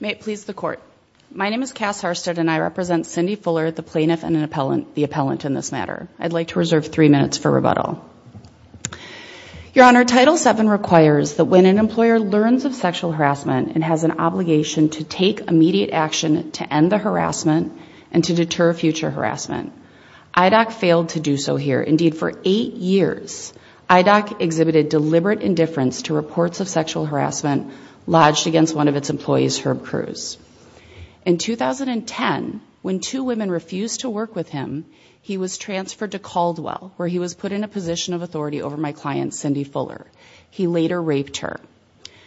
May it please the Court. My name is Cass Harstad and I represent Cindy Fuller, the plaintiff and the appellant in this matter. I'd like to reserve three minutes for rebuttal. Your Honor, Title VII requires that when an employer learns of sexual harassment, it has an obligation to take immediate action to end the harassment and to deter future harassment. IDOC failed to do so here. Indeed, for eight years, IDOC exhibited deliberate indifference to reports of sexual harassment lodged against one of its employees, Herb Cruz. In 2010, when two women refused to work with him, he was transferred to Caldwell, where he was put in a position of authority over my client, Cindy Fuller. He later raped her.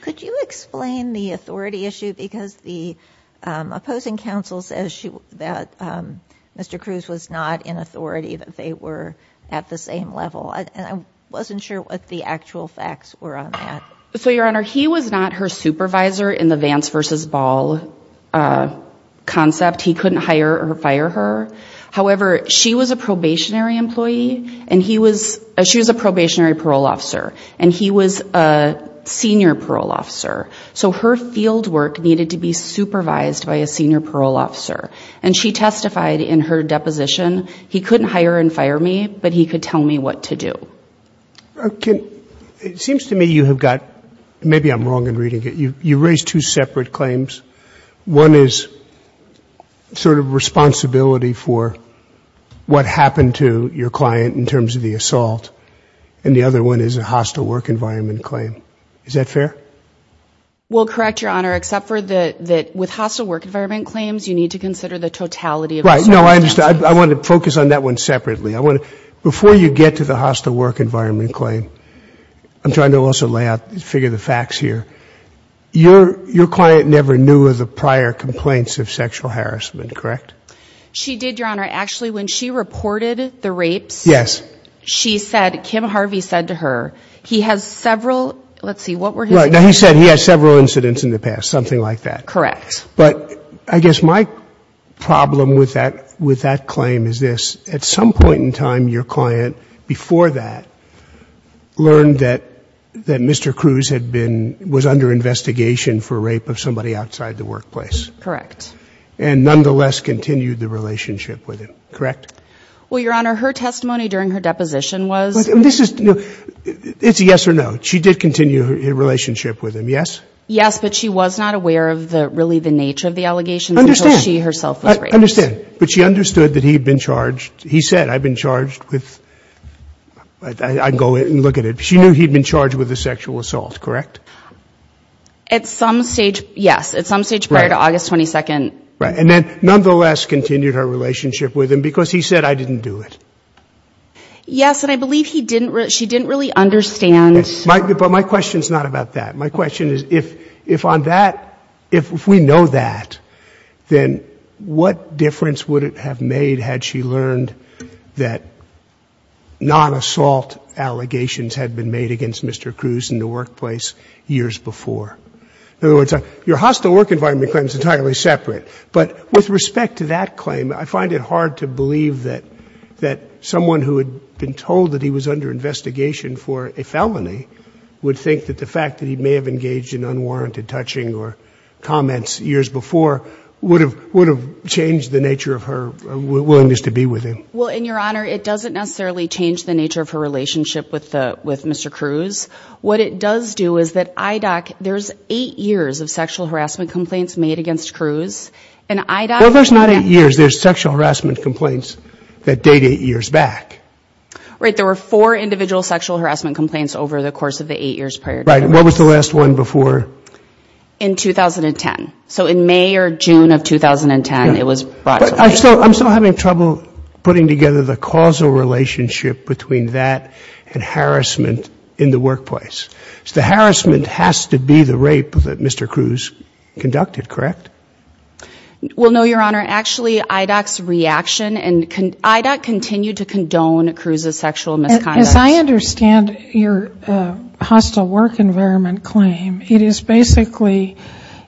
Could you explain the authority issue? Because the opposing counsel says that Mr. Cruz was not in authority, that they were at the same level. I wasn't sure what the actual facts were on that. So, Your Honor, he was not her supervisor in the Vance v. Ball concept. He couldn't hire or fire her. However, she was a probationary employee, and he was, she was a probationary parole officer, and he was a senior parole officer. So her field work needed to be supervised by a senior parole officer. And she testified in her deposition, he couldn't hire and fire me, but he could tell me what to do. It seems to me you have got, maybe I'm wrong in reading it, you raised two separate claims. One is sort of responsibility for what happened to your client in terms of the assault, and the other one is a hostile work environment claim. Is that fair? Well, correct, Your Honor, except for that with hostile work environment claims, you need to consider the totality of assault. Right. No, I understand. I want to focus on that one separately. Before you get to the hostile work environment claim, I'm trying to also lay out, figure the facts here. Your client never knew of the prior complaints of sexual harassment, correct? She did, Your Honor. Actually, when she reported the rapes, she said, Kim Harvey said to her, he has several, let's see, what were his... Right. Now, he said he has several incidents in the past, something like that. Correct. But I guess my problem with that claim is this. At some point in time, your client, before that, learned that Mr. Cruz had been, was under investigation for rape of somebody outside the workplace. Correct. And nonetheless continued the relationship with him, correct? Well, Your Honor, her testimony during her deposition was... This is, it's a yes or no. She did continue her relationship with him, yes? Yes, but she was not aware of the, really the nature of the allegations... I understand. ...until she herself was raped. I understand. But she understood that he'd been charged, he said, I've been charged with, I can go in and look at it. She knew he'd been charged with a sexual assault, correct? At some stage, yes. At some stage prior to August 22nd. Right. And then nonetheless continued her relationship with him because he said, I didn't do it. Yes, and I believe he didn't, she didn't really understand... But my question's not about that. My question is, if on that, if we know that, then what difference would it have made had she learned that non-assault allegations had been made against Mr. Cruz in the workplace years before? In other words, your hostile work environment claim is entirely separate. But with respect to that claim, I find it hard to believe that someone who had been told that he was under investigation for a felony would think that the fact that he may have engaged in unwarranted touching or comments years before would have changed the nature of her willingness to be with him. Well, in your honor, it doesn't necessarily change the nature of her relationship with Mr. Cruz. What it does do is that IDOC, there's eight years of sexual harassment complaints made against Cruz, and IDOC... Well, there's not eight years. There's sexual harassment complaints that date eight years back. Right. There were four individual sexual harassment complaints over the course of the eight years prior to that. Right. And what was the last one before? In 2010. So in May or June of 2010, it was brought to light. I'm still having trouble putting together the causal relationship between that and harassment in the workplace. The harassment has to be the rape that Mr. Cruz conducted, correct? Well, no, your honor. Actually, IDOC's reaction, and IDOC continued to condone Cruz's sexual misconduct. As I understand your hostile work environment claim, it is basically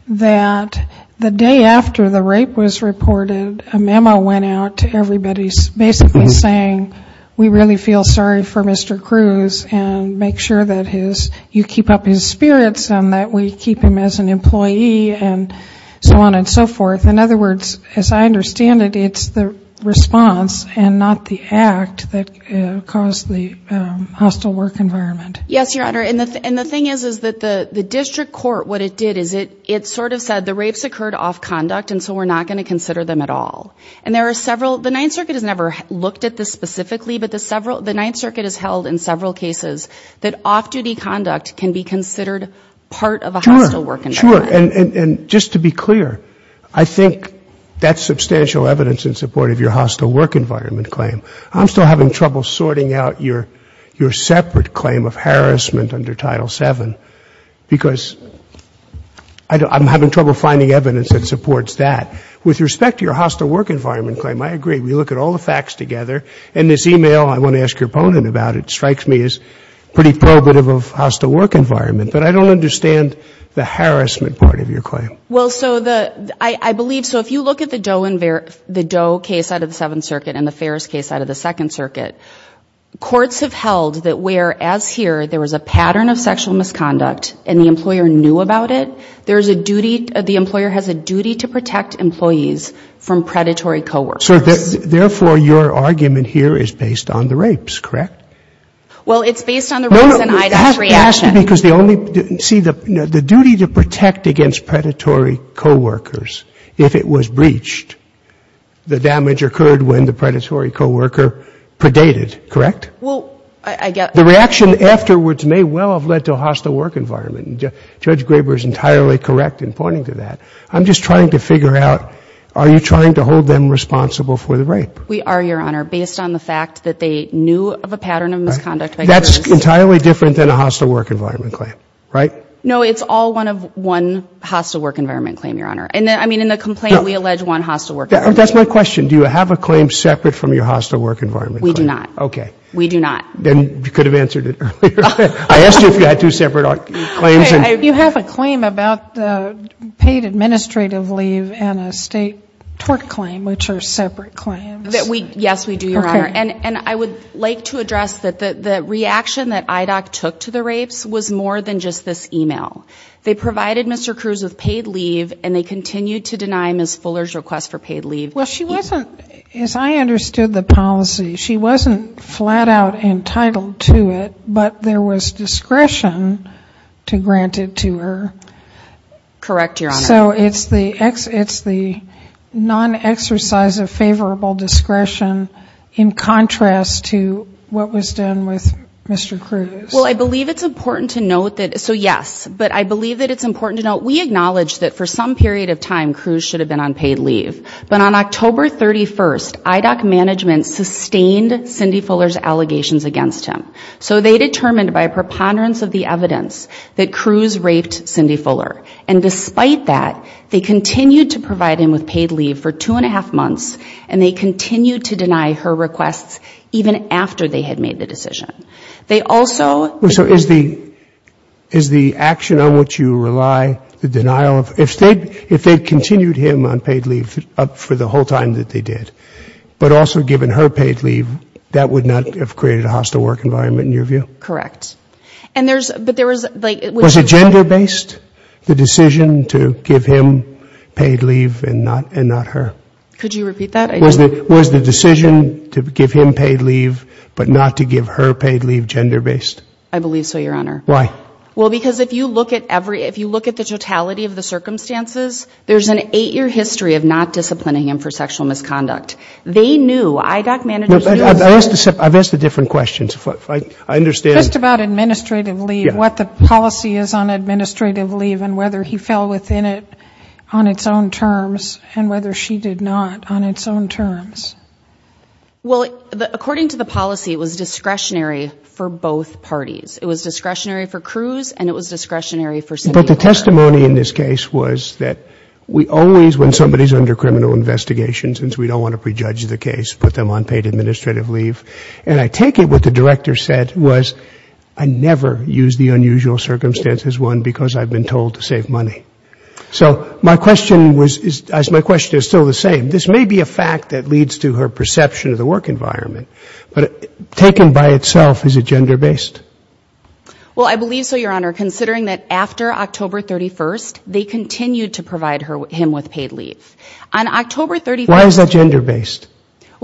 that the day after the rape was reported, a memo went out to everybody basically saying we really feel sorry for Mr. Cruz and make sure that you keep up his spirits and that we keep him as an employee and so on and so forth. In other words, as I understand it, it's the response and not the act that caused the rape. Yes, your honor. And the thing is that the district court, what it did is it sort of said the rapes occurred off conduct and so we're not going to consider them at all. And there are several, the Ninth Circuit has never looked at this specifically, but the Ninth Circuit has held in several cases that off-duty conduct can be considered part of a hostile work environment. Sure. And just to be clear, I think that's substantial evidence in support of your hostile work environment claim. I'm still having trouble sorting out your separate claim of harassment under Title VII, because I'm having trouble finding evidence that supports that. With respect to your hostile work environment claim, I agree. We look at all the facts together. And this e-mail, I won't ask your opponent about it, strikes me as pretty probative of hostile work environment. But I don't understand the harassment part of your claim. Well, so the, I believe, so if you look at the Doe case out of the Seventh Circuit and the Ferris case out of the Second Circuit, I believe courts have held that where, as here, there was a pattern of sexual misconduct and the employer knew about it, there's a duty, the employer has a duty to protect employees from predatory coworkers. Therefore, your argument here is based on the rapes, correct? Well, it's based on the rapes and Ida's reaction. That's because the only, see, the duty to protect against predatory coworkers, if it was breached, the damage occurred when the predatory coworker predated, correct? Well, I guess. The reaction afterwards may well have led to a hostile work environment. Judge Graber is entirely correct in pointing to that. I'm just trying to figure out, are you trying to hold them responsible for the rape? We are, Your Honor, based on the fact that they knew of a pattern of misconduct by coworkers. That's entirely different than a hostile work environment claim, right? No, it's all one of one hostile work environment claim, Your Honor. I mean, in the complaint, we allege one hostile work environment claim. That's my question. Do you have a claim separate from your hostile work environment claim? Yes, we do, Your Honor. And I would like to address that the reaction that IDOC took to the rapes was more than just this e-mail. They provided Mr. Cruz with paid leave and they continued to deny Ms. Fuller's request for paid leave. Well, she wasn't, as I understood the policy, she wasn't flat out entitled to it, but there was discretion to grant it to her. Correct, Your Honor. So there was discretion in contrast to what was done with Mr. Cruz? Well, I believe it's important to note that, so yes, but I believe that it's important to note, we acknowledge that for some period of time, Cruz should have been on paid leave. But on October 31st, IDOC management sustained Cindy Fuller's allegations against him. So they determined by preponderance of the evidence that Cruz raped Cindy Fuller. And despite that, they continued to provide him with paid leave for two and a half months, and they continued to deny her requests even after they had made the decision. They also... So is the action on which you rely the denial of, if they continued him on paid leave up for the whole time that they did, but also given her paid leave, that would not have created a hostile work environment in your view? Correct. Was it gender based, the decision to give him paid leave and not her? Could you repeat that? Was the decision to give him paid leave, but not to give her paid leave gender based? I believe so, Your Honor. Why? Well, because if you look at the totality of the circumstances, there's an eight year history of not disciplining him for sexual misconduct. They knew, IDOC managers knew... I've asked a different question. Just about administrative leave, what the policy is on administrative leave and whether he fell within it on its own terms and whether she did not on its own terms. Well, according to the policy, it was discretionary for both parties. It was discretionary for Cruz and it was discretionary for... But the testimony in this case was that we always, when somebody is under criminal investigation, since we don't want to prejudge the case, put them on paid administrative leave. And I take it what the director said was, I never use the unusual circumstances, one, because I've been told to save money. So my question is still the same. This may be a fact that leads to her perception of the work environment, but taken by itself, is it gender based? Well, I believe so, Your Honor, considering that after October 31st, they continued to provide him with paid leave. On October 31st... Why is that gender based?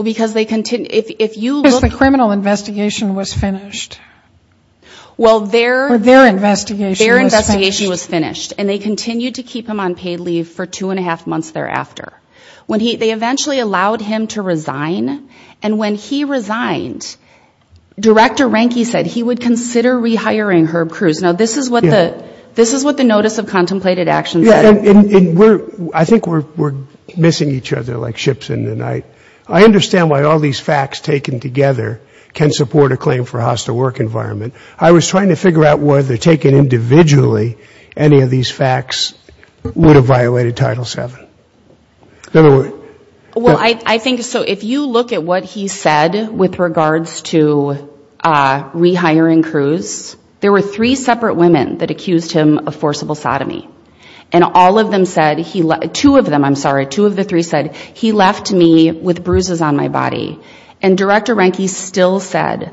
Because the criminal investigation was finished. Well, their investigation was finished. And they continued to keep him on paid leave for two and a half months thereafter. They eventually allowed him to resign. And when he resigned, Director Ranke said he would consider rehiring Herb Cruz. Now, this is what the notice of contemplated action said. And I think we're missing each other like ships in the night. I understand why all these facts taken together can support a claim for a hostile work environment. I was trying to figure out whether taken individually, any of these facts would have violated Title VII. Well, I think so. If you look at what he said with regards to rehiring Cruz, there were three separate women that accused him of sexual assault. All of them said, two of them, I'm sorry, two of the three said, he left me with bruises on my body. And Director Ranke still said,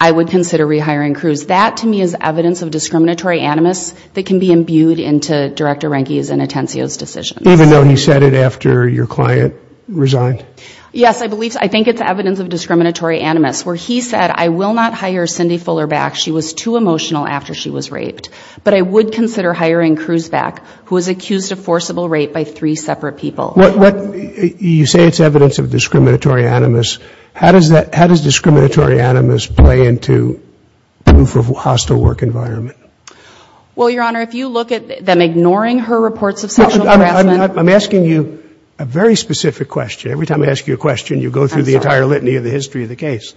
I would consider rehiring Cruz. That, to me, is evidence of discriminatory animus that can be imbued into Director Ranke's and Atencio's decisions. Even though he said it after your client resigned? Yes, I think it's evidence of discriminatory animus, where he said, I will not hire Cindy Fuller back. She was too emotional after she was raped. But I would consider hiring Cruz back, who was accused of forcible rape by three separate people. You say it's evidence of discriminatory animus. How does discriminatory animus play into proof of hostile work environment? Well, Your Honor, if you look at them ignoring her reports of sexual harassment... I'm asking you a very specific question. Every time I ask you a question, you go through the entire litany of the history of the case.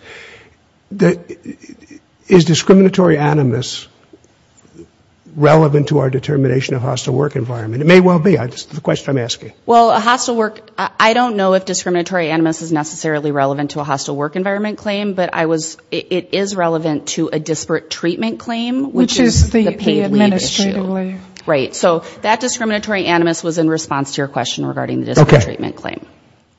Is discriminatory animus relevant to our determination of hostile work environment? It may well be. That's the question I'm asking. Well, a hostile work, I don't know if discriminatory animus is necessarily relevant to a hostile work environment claim. But it is relevant to a disparate treatment claim, which is the paid leave issue. Right. So that discriminatory animus was in response to your question regarding the disparate treatment claim.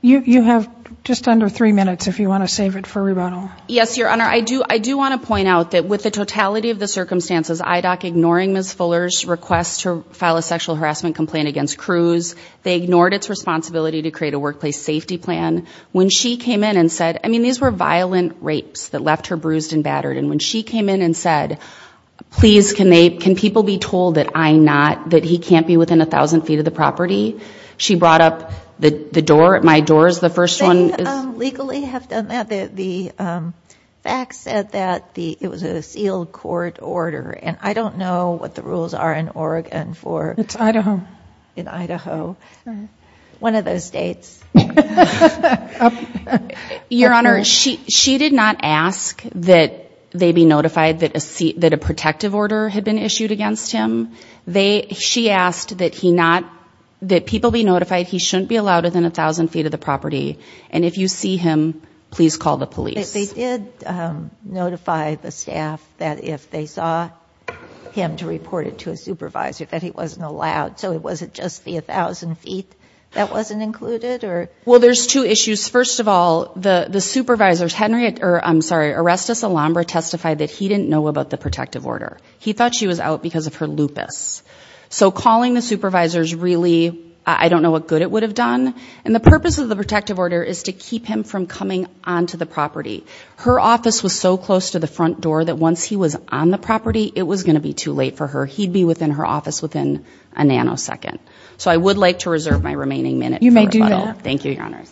You have just under three minutes, if you want to save it for rebuttal. Yes, Your Honor. I do want to point out that with the totality of the circumstances, IDOC ignoring Ms. Fuller's request to file a sexual harassment complaint against Cruz, they ignored its responsibility to create a workplace safety plan. When she came in and said, I mean, these were violent rapes that left her bruised and battered. And when she came in and said, please, can they, can people be told that I not, that he can't be within a thousand feet of the property, she brought up the door at my doors. The first one legally have done that. The facts said that it was a sealed court order. And I don't know what the rules are in Oregon for Idaho. One of those states. Your Honor, she, she did not ask that they be notified that a seat, that a protective order had been issued against him. They, she asked that he not, that people be notified. He shouldn't be allowed within a thousand feet of the property. And if you see him, please call the police. They did notify the staff that if they saw him to report it to a supervisor that he wasn't allowed. So it wasn't just the a thousand feet that wasn't included or. Well, there's two issues. First of all, the supervisors, Henry, or I'm sorry, arrest us. Alhambra testified that he didn't know about the protective order. He thought she was out because of her lupus. So calling the supervisors really, I don't know what good it would have done. And the purpose of the protective order is to keep him from coming onto the property. Her office was so close to the front door that once he was on the property, it was going to be too late for her. He'd be within her office within a nanosecond. So I would like to reserve my remaining minute. You may do that. Thank you, Your Honor.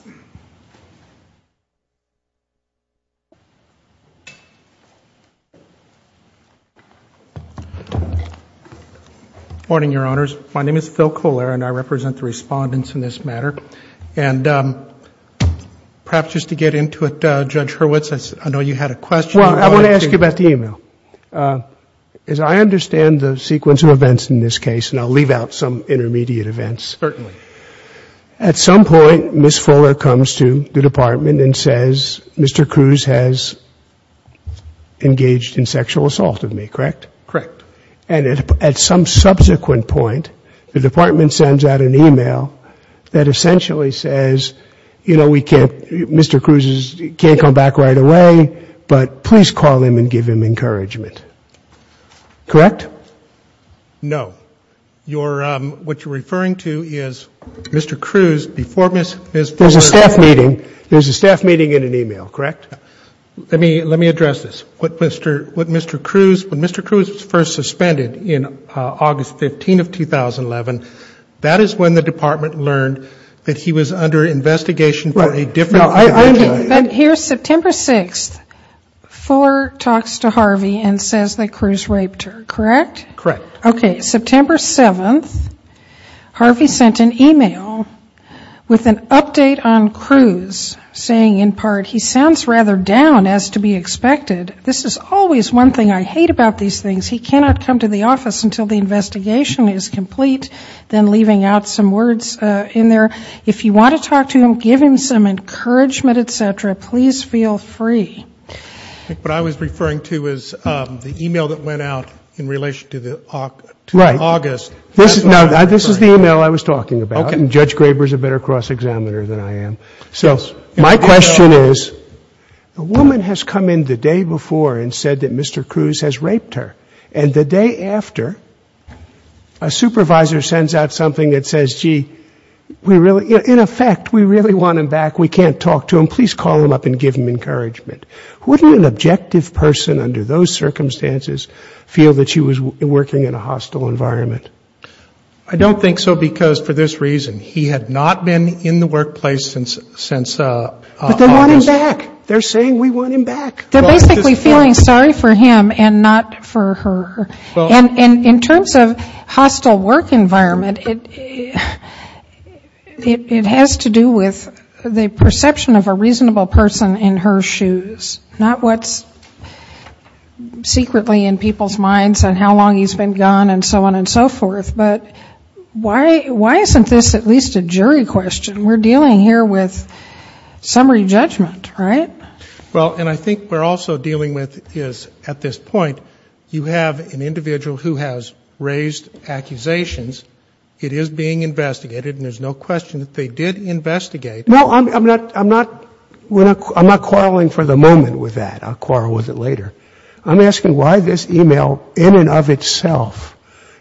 Morning, Your Honors. My name is Phil Kolar and I represent the respondents in this matter. And perhaps just to get into it, Judge Hurwitz, I know you had a question. Well, I want to ask you about the e-mail. As I understand the sequence of events in this case, and I'll leave out some intermediate events. Certainly. At some point, Ms. Fuller comes to the department and says, Mr. Cruz has engaged in sexual assault of me, correct? Correct. And at some subsequent point, the department sends out an e-mail that essentially says, you know, we can't, Mr. Cruz can't come back right away, but please call him and give him encouragement. Correct? No. What you're referring to is Mr. Cruz before Ms. Fuller. There's a staff meeting. There's a staff meeting and an e-mail, correct? Let me address this. What Mr. Cruz, when Mr. Cruz was first suspended in August 15th of 2011, that is when the department learned that he was under investigation for a different. Here's September 6th. Fuller talks to Harvey and says that Cruz raped her, correct? Correct. Okay. September 7th, Harvey sent an e-mail with an update on Cruz saying in part, he sounds rather down as to be expected. This is always one thing I hate about these things. He cannot come to the office until the investigation is complete, then leaving out some words in there. If you want to talk to him, give him some encouragement, et cetera. Please feel free. What I was referring to is the e-mail that went out in relation to the August. Right. This is the e-mail I was talking about. Okay. And Judge Graber is a better cross-examiner than I am. So my question is, the woman has come in the day before and said that Mr. Cruz has raped her. And the day after, a supervisor sends out something that says, gee, we really, in effect, we really want him back. We can't talk to him. Please call him up and give him encouragement. Wouldn't an objective person under those circumstances feel that she was working in a hostile environment? I don't think so, because for this reason, he had not been in the workplace since August. But they want him back. They're saying we want him back. They're basically feeling sorry for him and not for her. And in terms of hostile work environment, it has to do with the perception of a reasonable person in her shoes, not what's secretly in people's minds on how long he's been gone and so on and so forth. But why isn't this at least a jury question? We're dealing here with summary judgment, right? Well, and I think what we're also dealing with is, at this point, you have an individual who has raised accusations. It is being investigated, and there's no question that they did investigate. No, I'm not quarreling for the moment with that. I'll quarrel with it later. I'm asking why this email, in and of itself,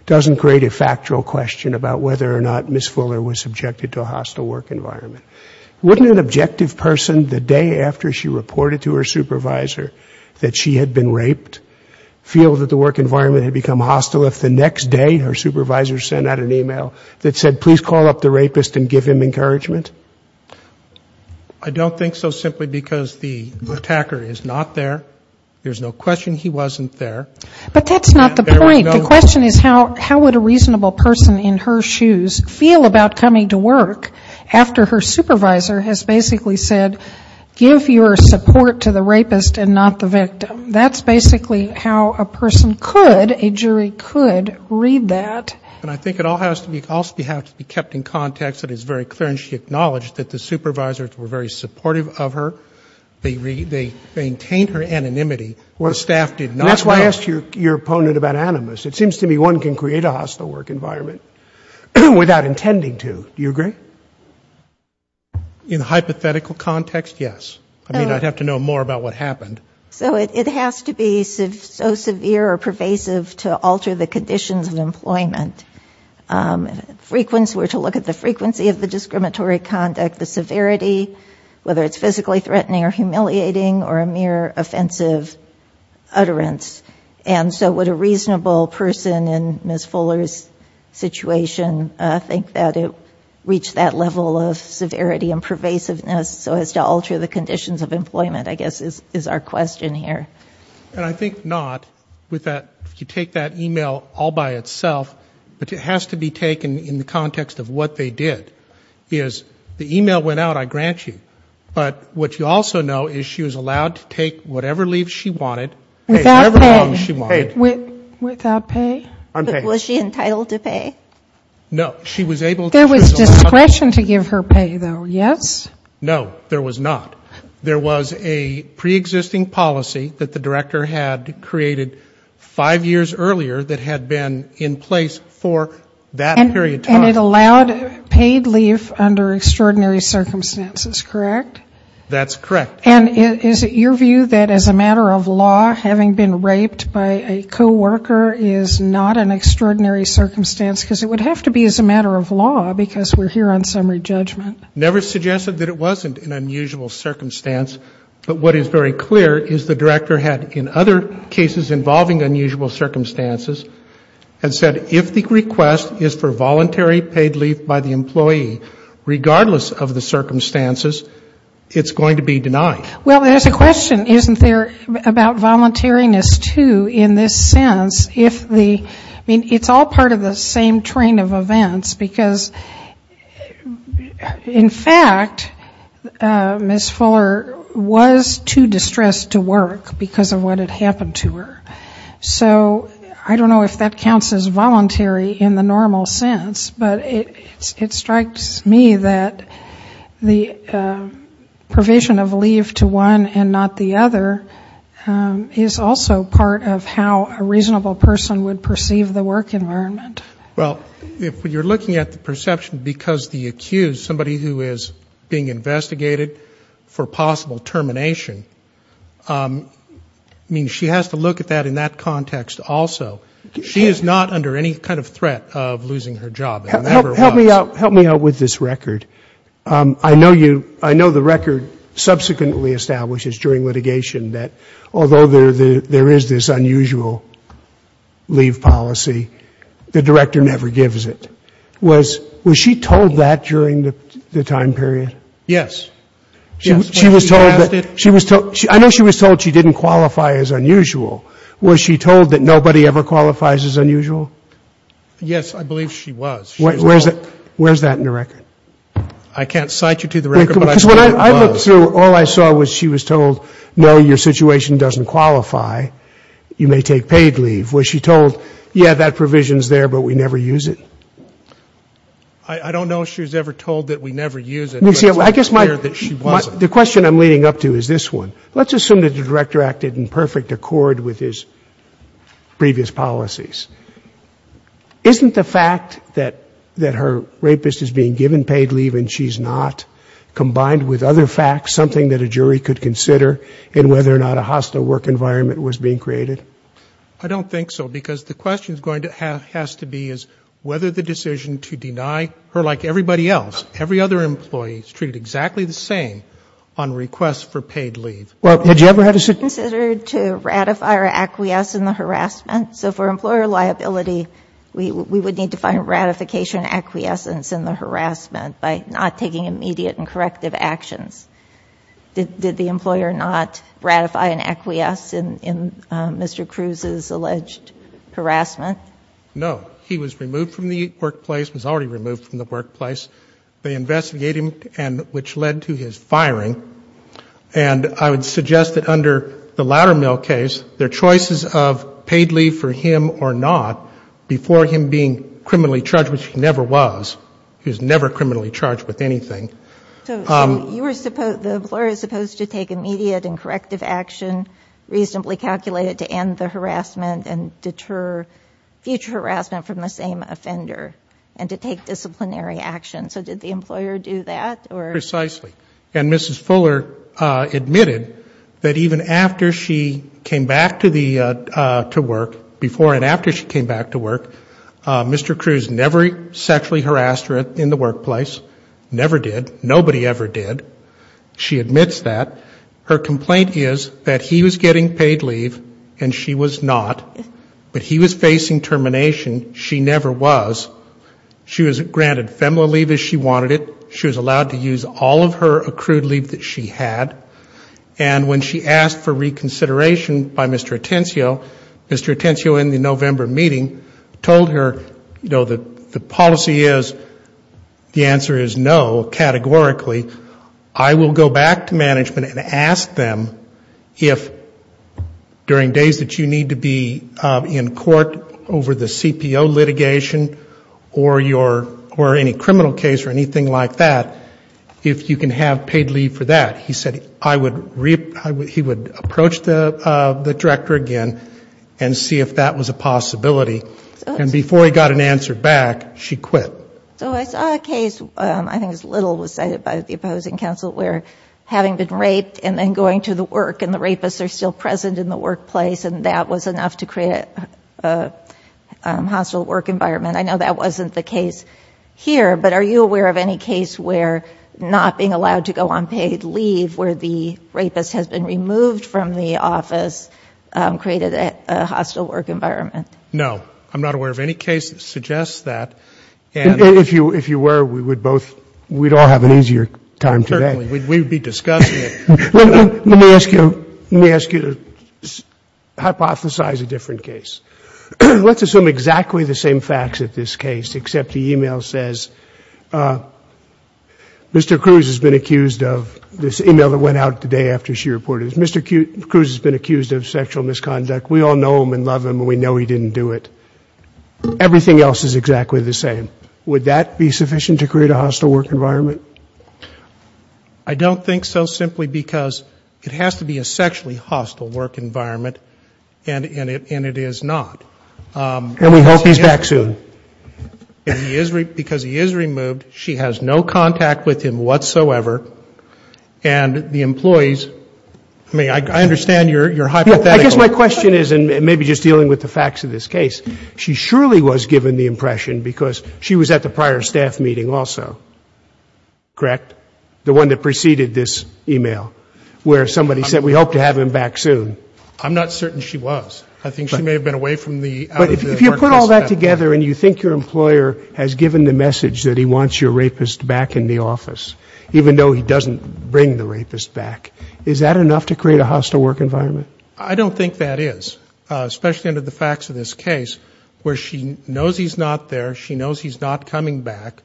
doesn't create a factual question about whether or not Ms. Fuller was subjected to a hostile work environment. Wouldn't an objective person, the day after she reported to her supervisor that she had been raped, feel that the work environment had become hostile if the next day her supervisor sent out an email that said, please call up the rapist and give him encouragement? I don't think so, simply because the attacker is not there. There's no question he wasn't there. But that's not the point. The question is how would a reasonable person in her shoes feel about coming to work after her supervisor has basically said, give your support to the rapist and not the victim. That's basically how a person could, a jury could, read that. And I think it also has to be kept in context that it's very clear and she acknowledged that the supervisors were very supportive of her. They maintained her anonymity. The staff did not. And that's why I asked your opponent about animus. It seems to me one can create a hostile work environment without intending to. Do you agree? In a hypothetical context, yes. I mean, I'd have to know more about what happened. So it has to be so severe or pervasive to alter the conditions of employment. We're to look at the frequency of the discriminatory conduct, the severity, whether it's physically threatening or humiliating or a mere offensive utterance. And so would a reasonable person in Ms. Fuller's situation think that it reached that level of severity and pervasiveness so as to alter the conditions of employment, I guess, is our question here. And I think not with that. If you take that e-mail all by itself, but it has to be taken in the context of what they did, is the e-mail went out, I grant you. But what you also know is she was allowed to take whatever leave she wanted. Without pay. Whatever leave she wanted. Without pay? I'm paying. But was she entitled to pay? No. She was able to choose. There was discretion to give her pay, though, yes? No, there was not. There was a preexisting policy that the director had created five years earlier that had been in place for that period of time. And it allowed paid leave under extraordinary circumstances, correct? That's correct. And is it your view that as a matter of law, having been raped by a co-worker is not an extraordinary circumstance? Because it would have to be as a matter of law, because we're here on summary judgment. Never suggested that it wasn't an unusual circumstance. But what is very clear is the director had, in other cases involving unusual circumstances, had said if the request is for voluntary paid leave by the employee, regardless of the circumstances, it's going to be denied. Well, there's a question, isn't there, about voluntariness, too, in this sense. I mean, it's all part of the same train of events. Because, in fact, Ms. Fuller was too distressed to work because of what had happened to her. So I don't know if that counts as voluntary in the normal sense. But it strikes me that the provision of leave to one and not the other is also part of how a reasonable person would perceive the work environment. Well, if you're looking at the perception because the accused, somebody who is being investigated for possible termination, I mean, she has to look at that in that context also. She is not under any kind of threat of losing her job. It never was. Help me out with this record. I know the record subsequently establishes during litigation that although there is this unusual leave policy, the director never gives it. Was she told that during the time period? Yes. Yes. When she was asked it. I know she was told she didn't qualify as unusual. Was she told that nobody ever qualifies as unusual? Yes, I believe she was. Where is that in the record? I can't cite you to the record, but I believe it was. Because when I looked through, all I saw was she was told, no, your situation doesn't qualify. You may take paid leave. Was she told, yeah, that provision is there, but we never use it? I don't know if she was ever told that we never use it. I guess the question I'm leading up to is this one. Let's assume that the director acted in perfect accord with his previous policies. Isn't the fact that her rapist is being given paid leave and she's not, combined with other facts, something that a jury could consider in whether or not a hostile work environment was being created? I don't think so, because the question has to be is whether the decision to deny her, like everybody else, every other employee, is treated exactly the same on requests for paid leave. Well, had you ever had a situation? Considered to ratify or acquiesce in the harassment. So for employer liability, we would need to find ratification and acquiescence in the harassment by not taking immediate and corrective actions. Did the employer not ratify and acquiesce in Mr. Cruz's alleged harassment? No. He was removed from the workplace, was already removed from the workplace. They investigated him, which led to his firing. And I would suggest that under the Loudermill case, their choices of paid leave for him or not, before him being criminally charged, which he never was, he was never criminally charged with anything. So you were supposed, the employer is supposed to take immediate and corrective action, reasonably calculated, to end the harassment and deter future harassment from the same offender and to take disciplinary action. So did the employer do that? Precisely. And Mrs. Fuller admitted that even after she came back to work, before and after she came back to work, Mr. Cruz never sexually harassed her in the workplace, never did, nobody ever did. She admits that. Her complaint is that he was getting paid leave and she was not, but he was facing termination. She never was. She was granted FEMLA leave as she wanted it. She was allowed to use all of her accrued leave that she had. And when she asked for reconsideration by Mr. Atencio, Mr. Atencio in the November meeting told her, you know, the policy is, the answer is no, categorically. I will go back to management and ask them if during days that you need to be in court over the CPO litigation or your, or any criminal case or anything like that, if you can have paid leave for that. He said I would, he would approach the director again and see if that was a possibility. And before he got an answer back, she quit. So I saw a case, I think it was Little was cited by the opposing counsel, where having been raped and then going to the work and the rapists are still present in the workplace and that was enough to create a hostile work environment. I know that wasn't the case here, but are you aware of any case where not being allowed to go on paid leave, where the rapist has been removed from the office, created a hostile work environment? No. I'm not aware of any case that suggests that. And if you, if you were, we would both, we'd all have an easier time today. We'd be discussing it. Let me ask you, let me ask you to hypothesize a different case. Let's assume exactly the same facts at this case, except the e-mail says, Mr. Cruz has been accused of, this e-mail that went out today after she reported, Mr. Cruz has been accused of sexual misconduct. We all know him and love him and we know he didn't do it. Everything else is exactly the same. Would that be sufficient to create a hostile work environment? I don't think so, simply because it has to be a sexually hostile work environment and it is not. And we hope he's back soon. Because he is removed, she has no contact with him whatsoever. And the employees, I mean, I understand your hypothetical. I guess my question is, and maybe just dealing with the facts of this case, she surely was given the impression because she was at the prior staff meeting also, correct? The one that preceded this e-mail, where somebody said, we hope to have him back soon. I'm not certain she was. I think she may have been away from the out of the workplace staff meeting. But if you put all that together and you think your employer has given the message that he wants your rapist back in the office, even though he doesn't bring the rapist back, is that enough to create a hostile work environment? I don't think that is. Especially under the facts of this case, where she knows he's not there, she knows he's not coming back.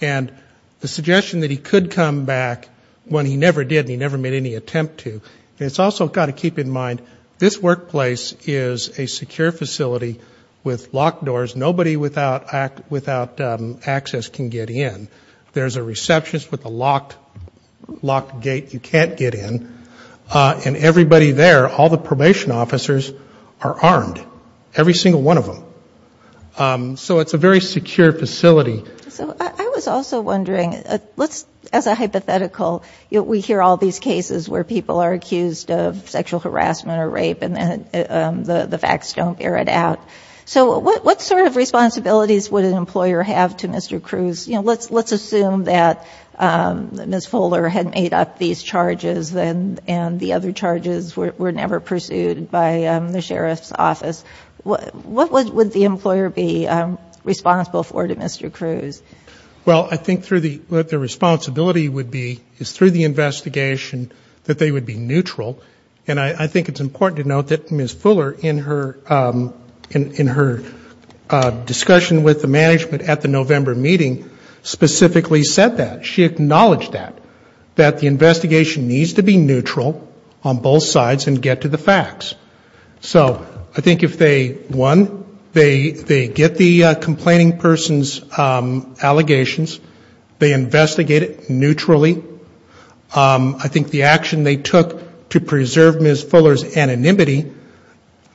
And the suggestion that he could come back when he never did and he never made any attempt to. It's also got to keep in mind, this workplace is a secure facility with locked doors. Nobody without access can get in. There's a receptionist with a locked gate you can't get in. And everybody there, all the probation officers are armed. Every single one of them. So it's a very secure facility. I was also wondering, as a hypothetical, we hear all these cases where people are accused of sexual harassment or rape and the facts don't bear it out. So what sort of responsibilities would an employer have to Mr. Cruz? You know, let's assume that Ms. Fuller had made up these charges and the other charges were never pursued by the sheriff's office. What would the employer be responsible for to Mr. Cruz? Well, I think the responsibility would be, is through the investigation, that they would be neutral. And I think it's important to note that Ms. Fuller, in her discussion with the management at the November meeting, specifically said that. She acknowledged that, that the investigation needs to be neutral on both sides and get to the facts. So I think if they, one, they get the complaining person's allegations, they investigate it neutrally. I think the action they took to preserve Ms. Fuller's anonymity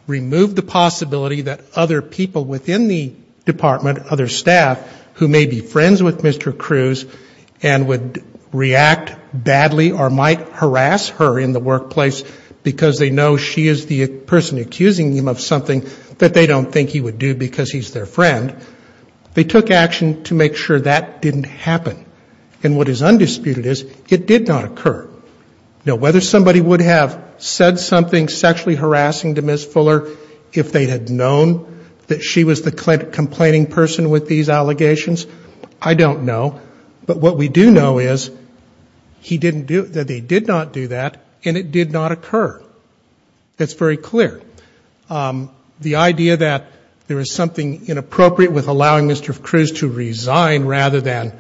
removed the possibility that other people within the department, other staff, who may be friends with Mr. Cruz and would react badly or might harass her in the workplace because they know she is the person accusing him of something that they don't think he would do because he's their friend. They took action to make sure that didn't happen. And what is undisputed is it did not occur. Now, whether somebody would have said something sexually harassing to Ms. Fuller if they had known that she was the complaining person with these allegations, I don't know. But what we do know is he didn't do, that they did not do that and it did not occur. That's very clear. The idea that there is something inappropriate with allowing Mr. Cruz to resign rather than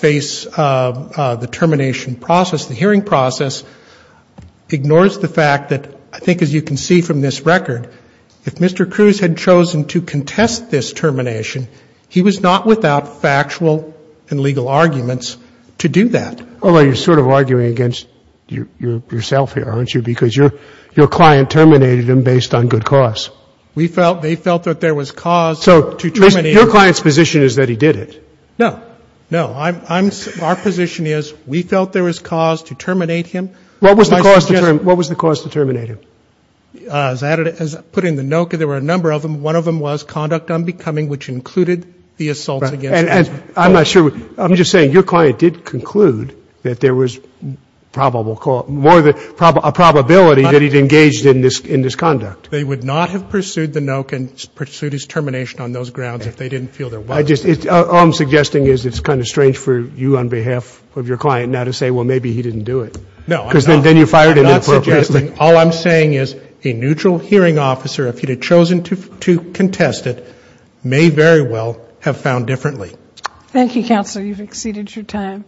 face the termination process, the hearing process, ignores the fact that, I think as you can see from this record, if Mr. Cruz had chosen to contest this termination, he was not without factual and legal arguments to do that. Although you're sort of arguing against yourself here, aren't you? Because your client terminated him based on good cause. They felt that there was cause to terminate him. So your client's position is that he did it. No. No. Our position is we felt there was cause to terminate him. What was the cause to terminate him? As I put in the note, there were a number of them. One of them was conduct unbecoming, which included the assault against Ms. Fuller. I'm not sure. I'm just saying your client did conclude that there was a probability that he'd engaged in this conduct. They would not have pursued the no and pursued his termination on those grounds if they didn't feel there was. All I'm suggesting is it's kind of strange for you on behalf of your client now to say, well, maybe he didn't do it. No, I'm not. Because then you fired him inappropriately. All I'm saying is a neutral hearing officer, if he'd have chosen to contest it, may very well have found differently. Thank you, Counselor. You've exceeded your time.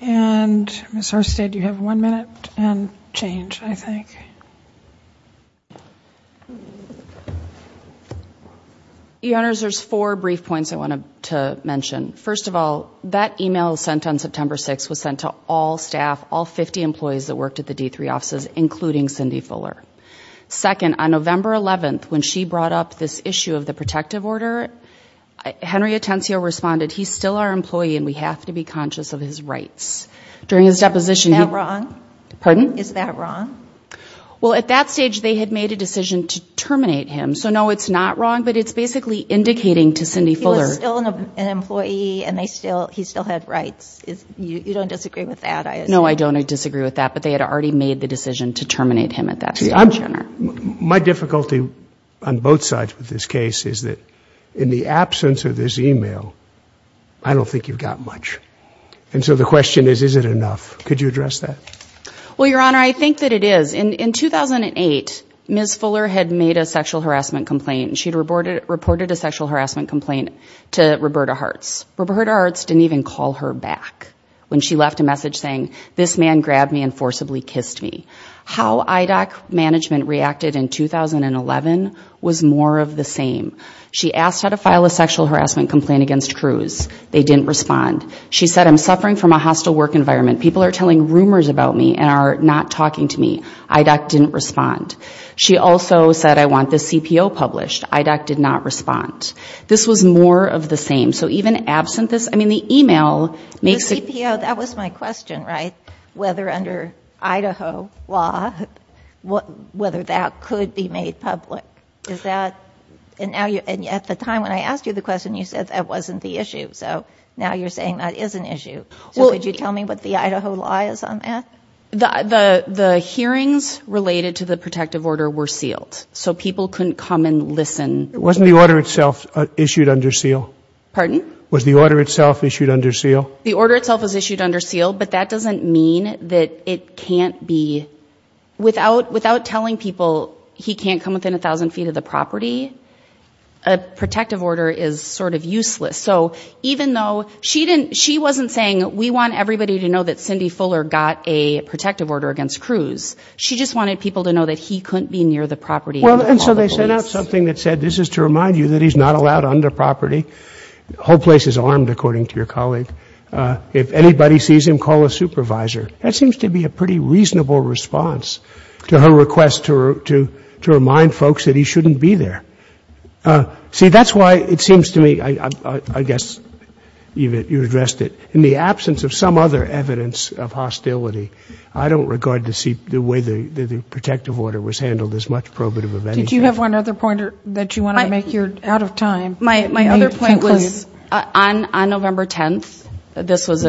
And Ms. Herstead, you have one minute and change, I think. Your Honors, there's four brief points I wanted to mention. First of all, that email sent on September 6th was sent to all staff, all 50 employees that worked at the D3 offices, including Cindy Fuller. Second, on November 11th, when she brought up this issue of the protective order, Henry Atencio responded, he's still our employee and we have to be conscious of his rights. Is that wrong? Pardon? Is that wrong? Well, at that stage, they had made a decision to terminate him. So, no, it's not wrong, but it's basically indicating to Cindy Fuller. He was still an employee and he still had rights. You don't disagree with that? No, I don't disagree with that. But they had already made the decision to terminate him at that stage. My difficulty on both sides with this case is that in the absence of this email, I don't think you've got much. And so the question is, is it enough? Could you address that? Well, Your Honor, I think that it is. In 2008, Ms. Fuller had made a sexual harassment complaint. She had reported a sexual harassment complaint to Roberta Hertz. Roberta Hertz didn't even call her back when she left a message saying, this man grabbed me and forcibly kissed me. How IDOC management reacted in 2011 was more of the same. She asked her to file a sexual harassment complaint against Cruz. They didn't respond. She said, I'm suffering from a hostile work environment. People are telling rumors about me and are not talking to me. IDOC didn't respond. She also said, I want this CPO published. IDOC did not respond. This was more of the same. So even absent this, I mean, the email makes it. The CPO, that was my question, right? Whether under Idaho law, whether that could be made public. And at the time when I asked you the question, you said that wasn't the issue. So now you're saying that is an issue. So could you tell me what the Idaho law is on that? The hearings related to the protective order were sealed. So people couldn't come and listen. Wasn't the order itself issued under seal? Pardon? Was the order itself issued under seal? The order itself was issued under seal, but that doesn't mean that it can't be. Without telling people he can't come within 1,000 feet of the property, a protective order is sort of useless. So even though she wasn't saying we want everybody to know that Cindy Fuller got a protective order against Cruz. She just wanted people to know that he couldn't be near the property. Well, and so they sent out something that said this is to remind you that he's not allowed under property. The whole place is armed, according to your colleague. If anybody sees him, call a supervisor. That seems to be a pretty reasonable response to her request to remind folks that he shouldn't be there. See, that's why it seems to me, I guess you addressed it, in the absence of some other evidence of hostility, I don't regard the way the protective order was handled as much probative of anything. Did you have one other point that you wanted to make? You're out of time. My other point was on November 10th, this was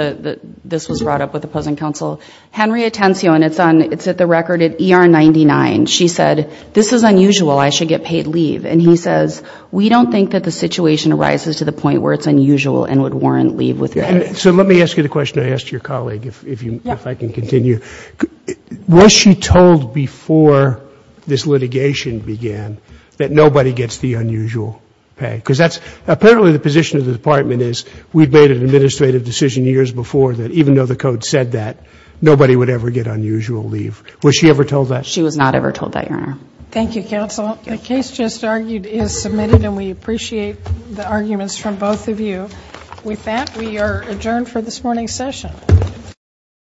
brought up with opposing counsel, Henry Atencio, and it's at the record at ER 99, she said, this is unusual, I should get paid leave. And he says, we don't think that the situation arises to the point where it's unusual and would warrant leave with pay. So let me ask you the question I asked your colleague, if I can continue. Was she told before this litigation began that nobody gets the unusual pay? Because that's apparently the position of the department is we've made an administrative decision years before that even though the code said that, nobody would ever get unusual leave. Was she ever told that? She was not ever told that, Your Honor. Thank you, counsel. The case just argued is submitted, and we appreciate the arguments from both of you. With that, we are adjourned for this morning's session.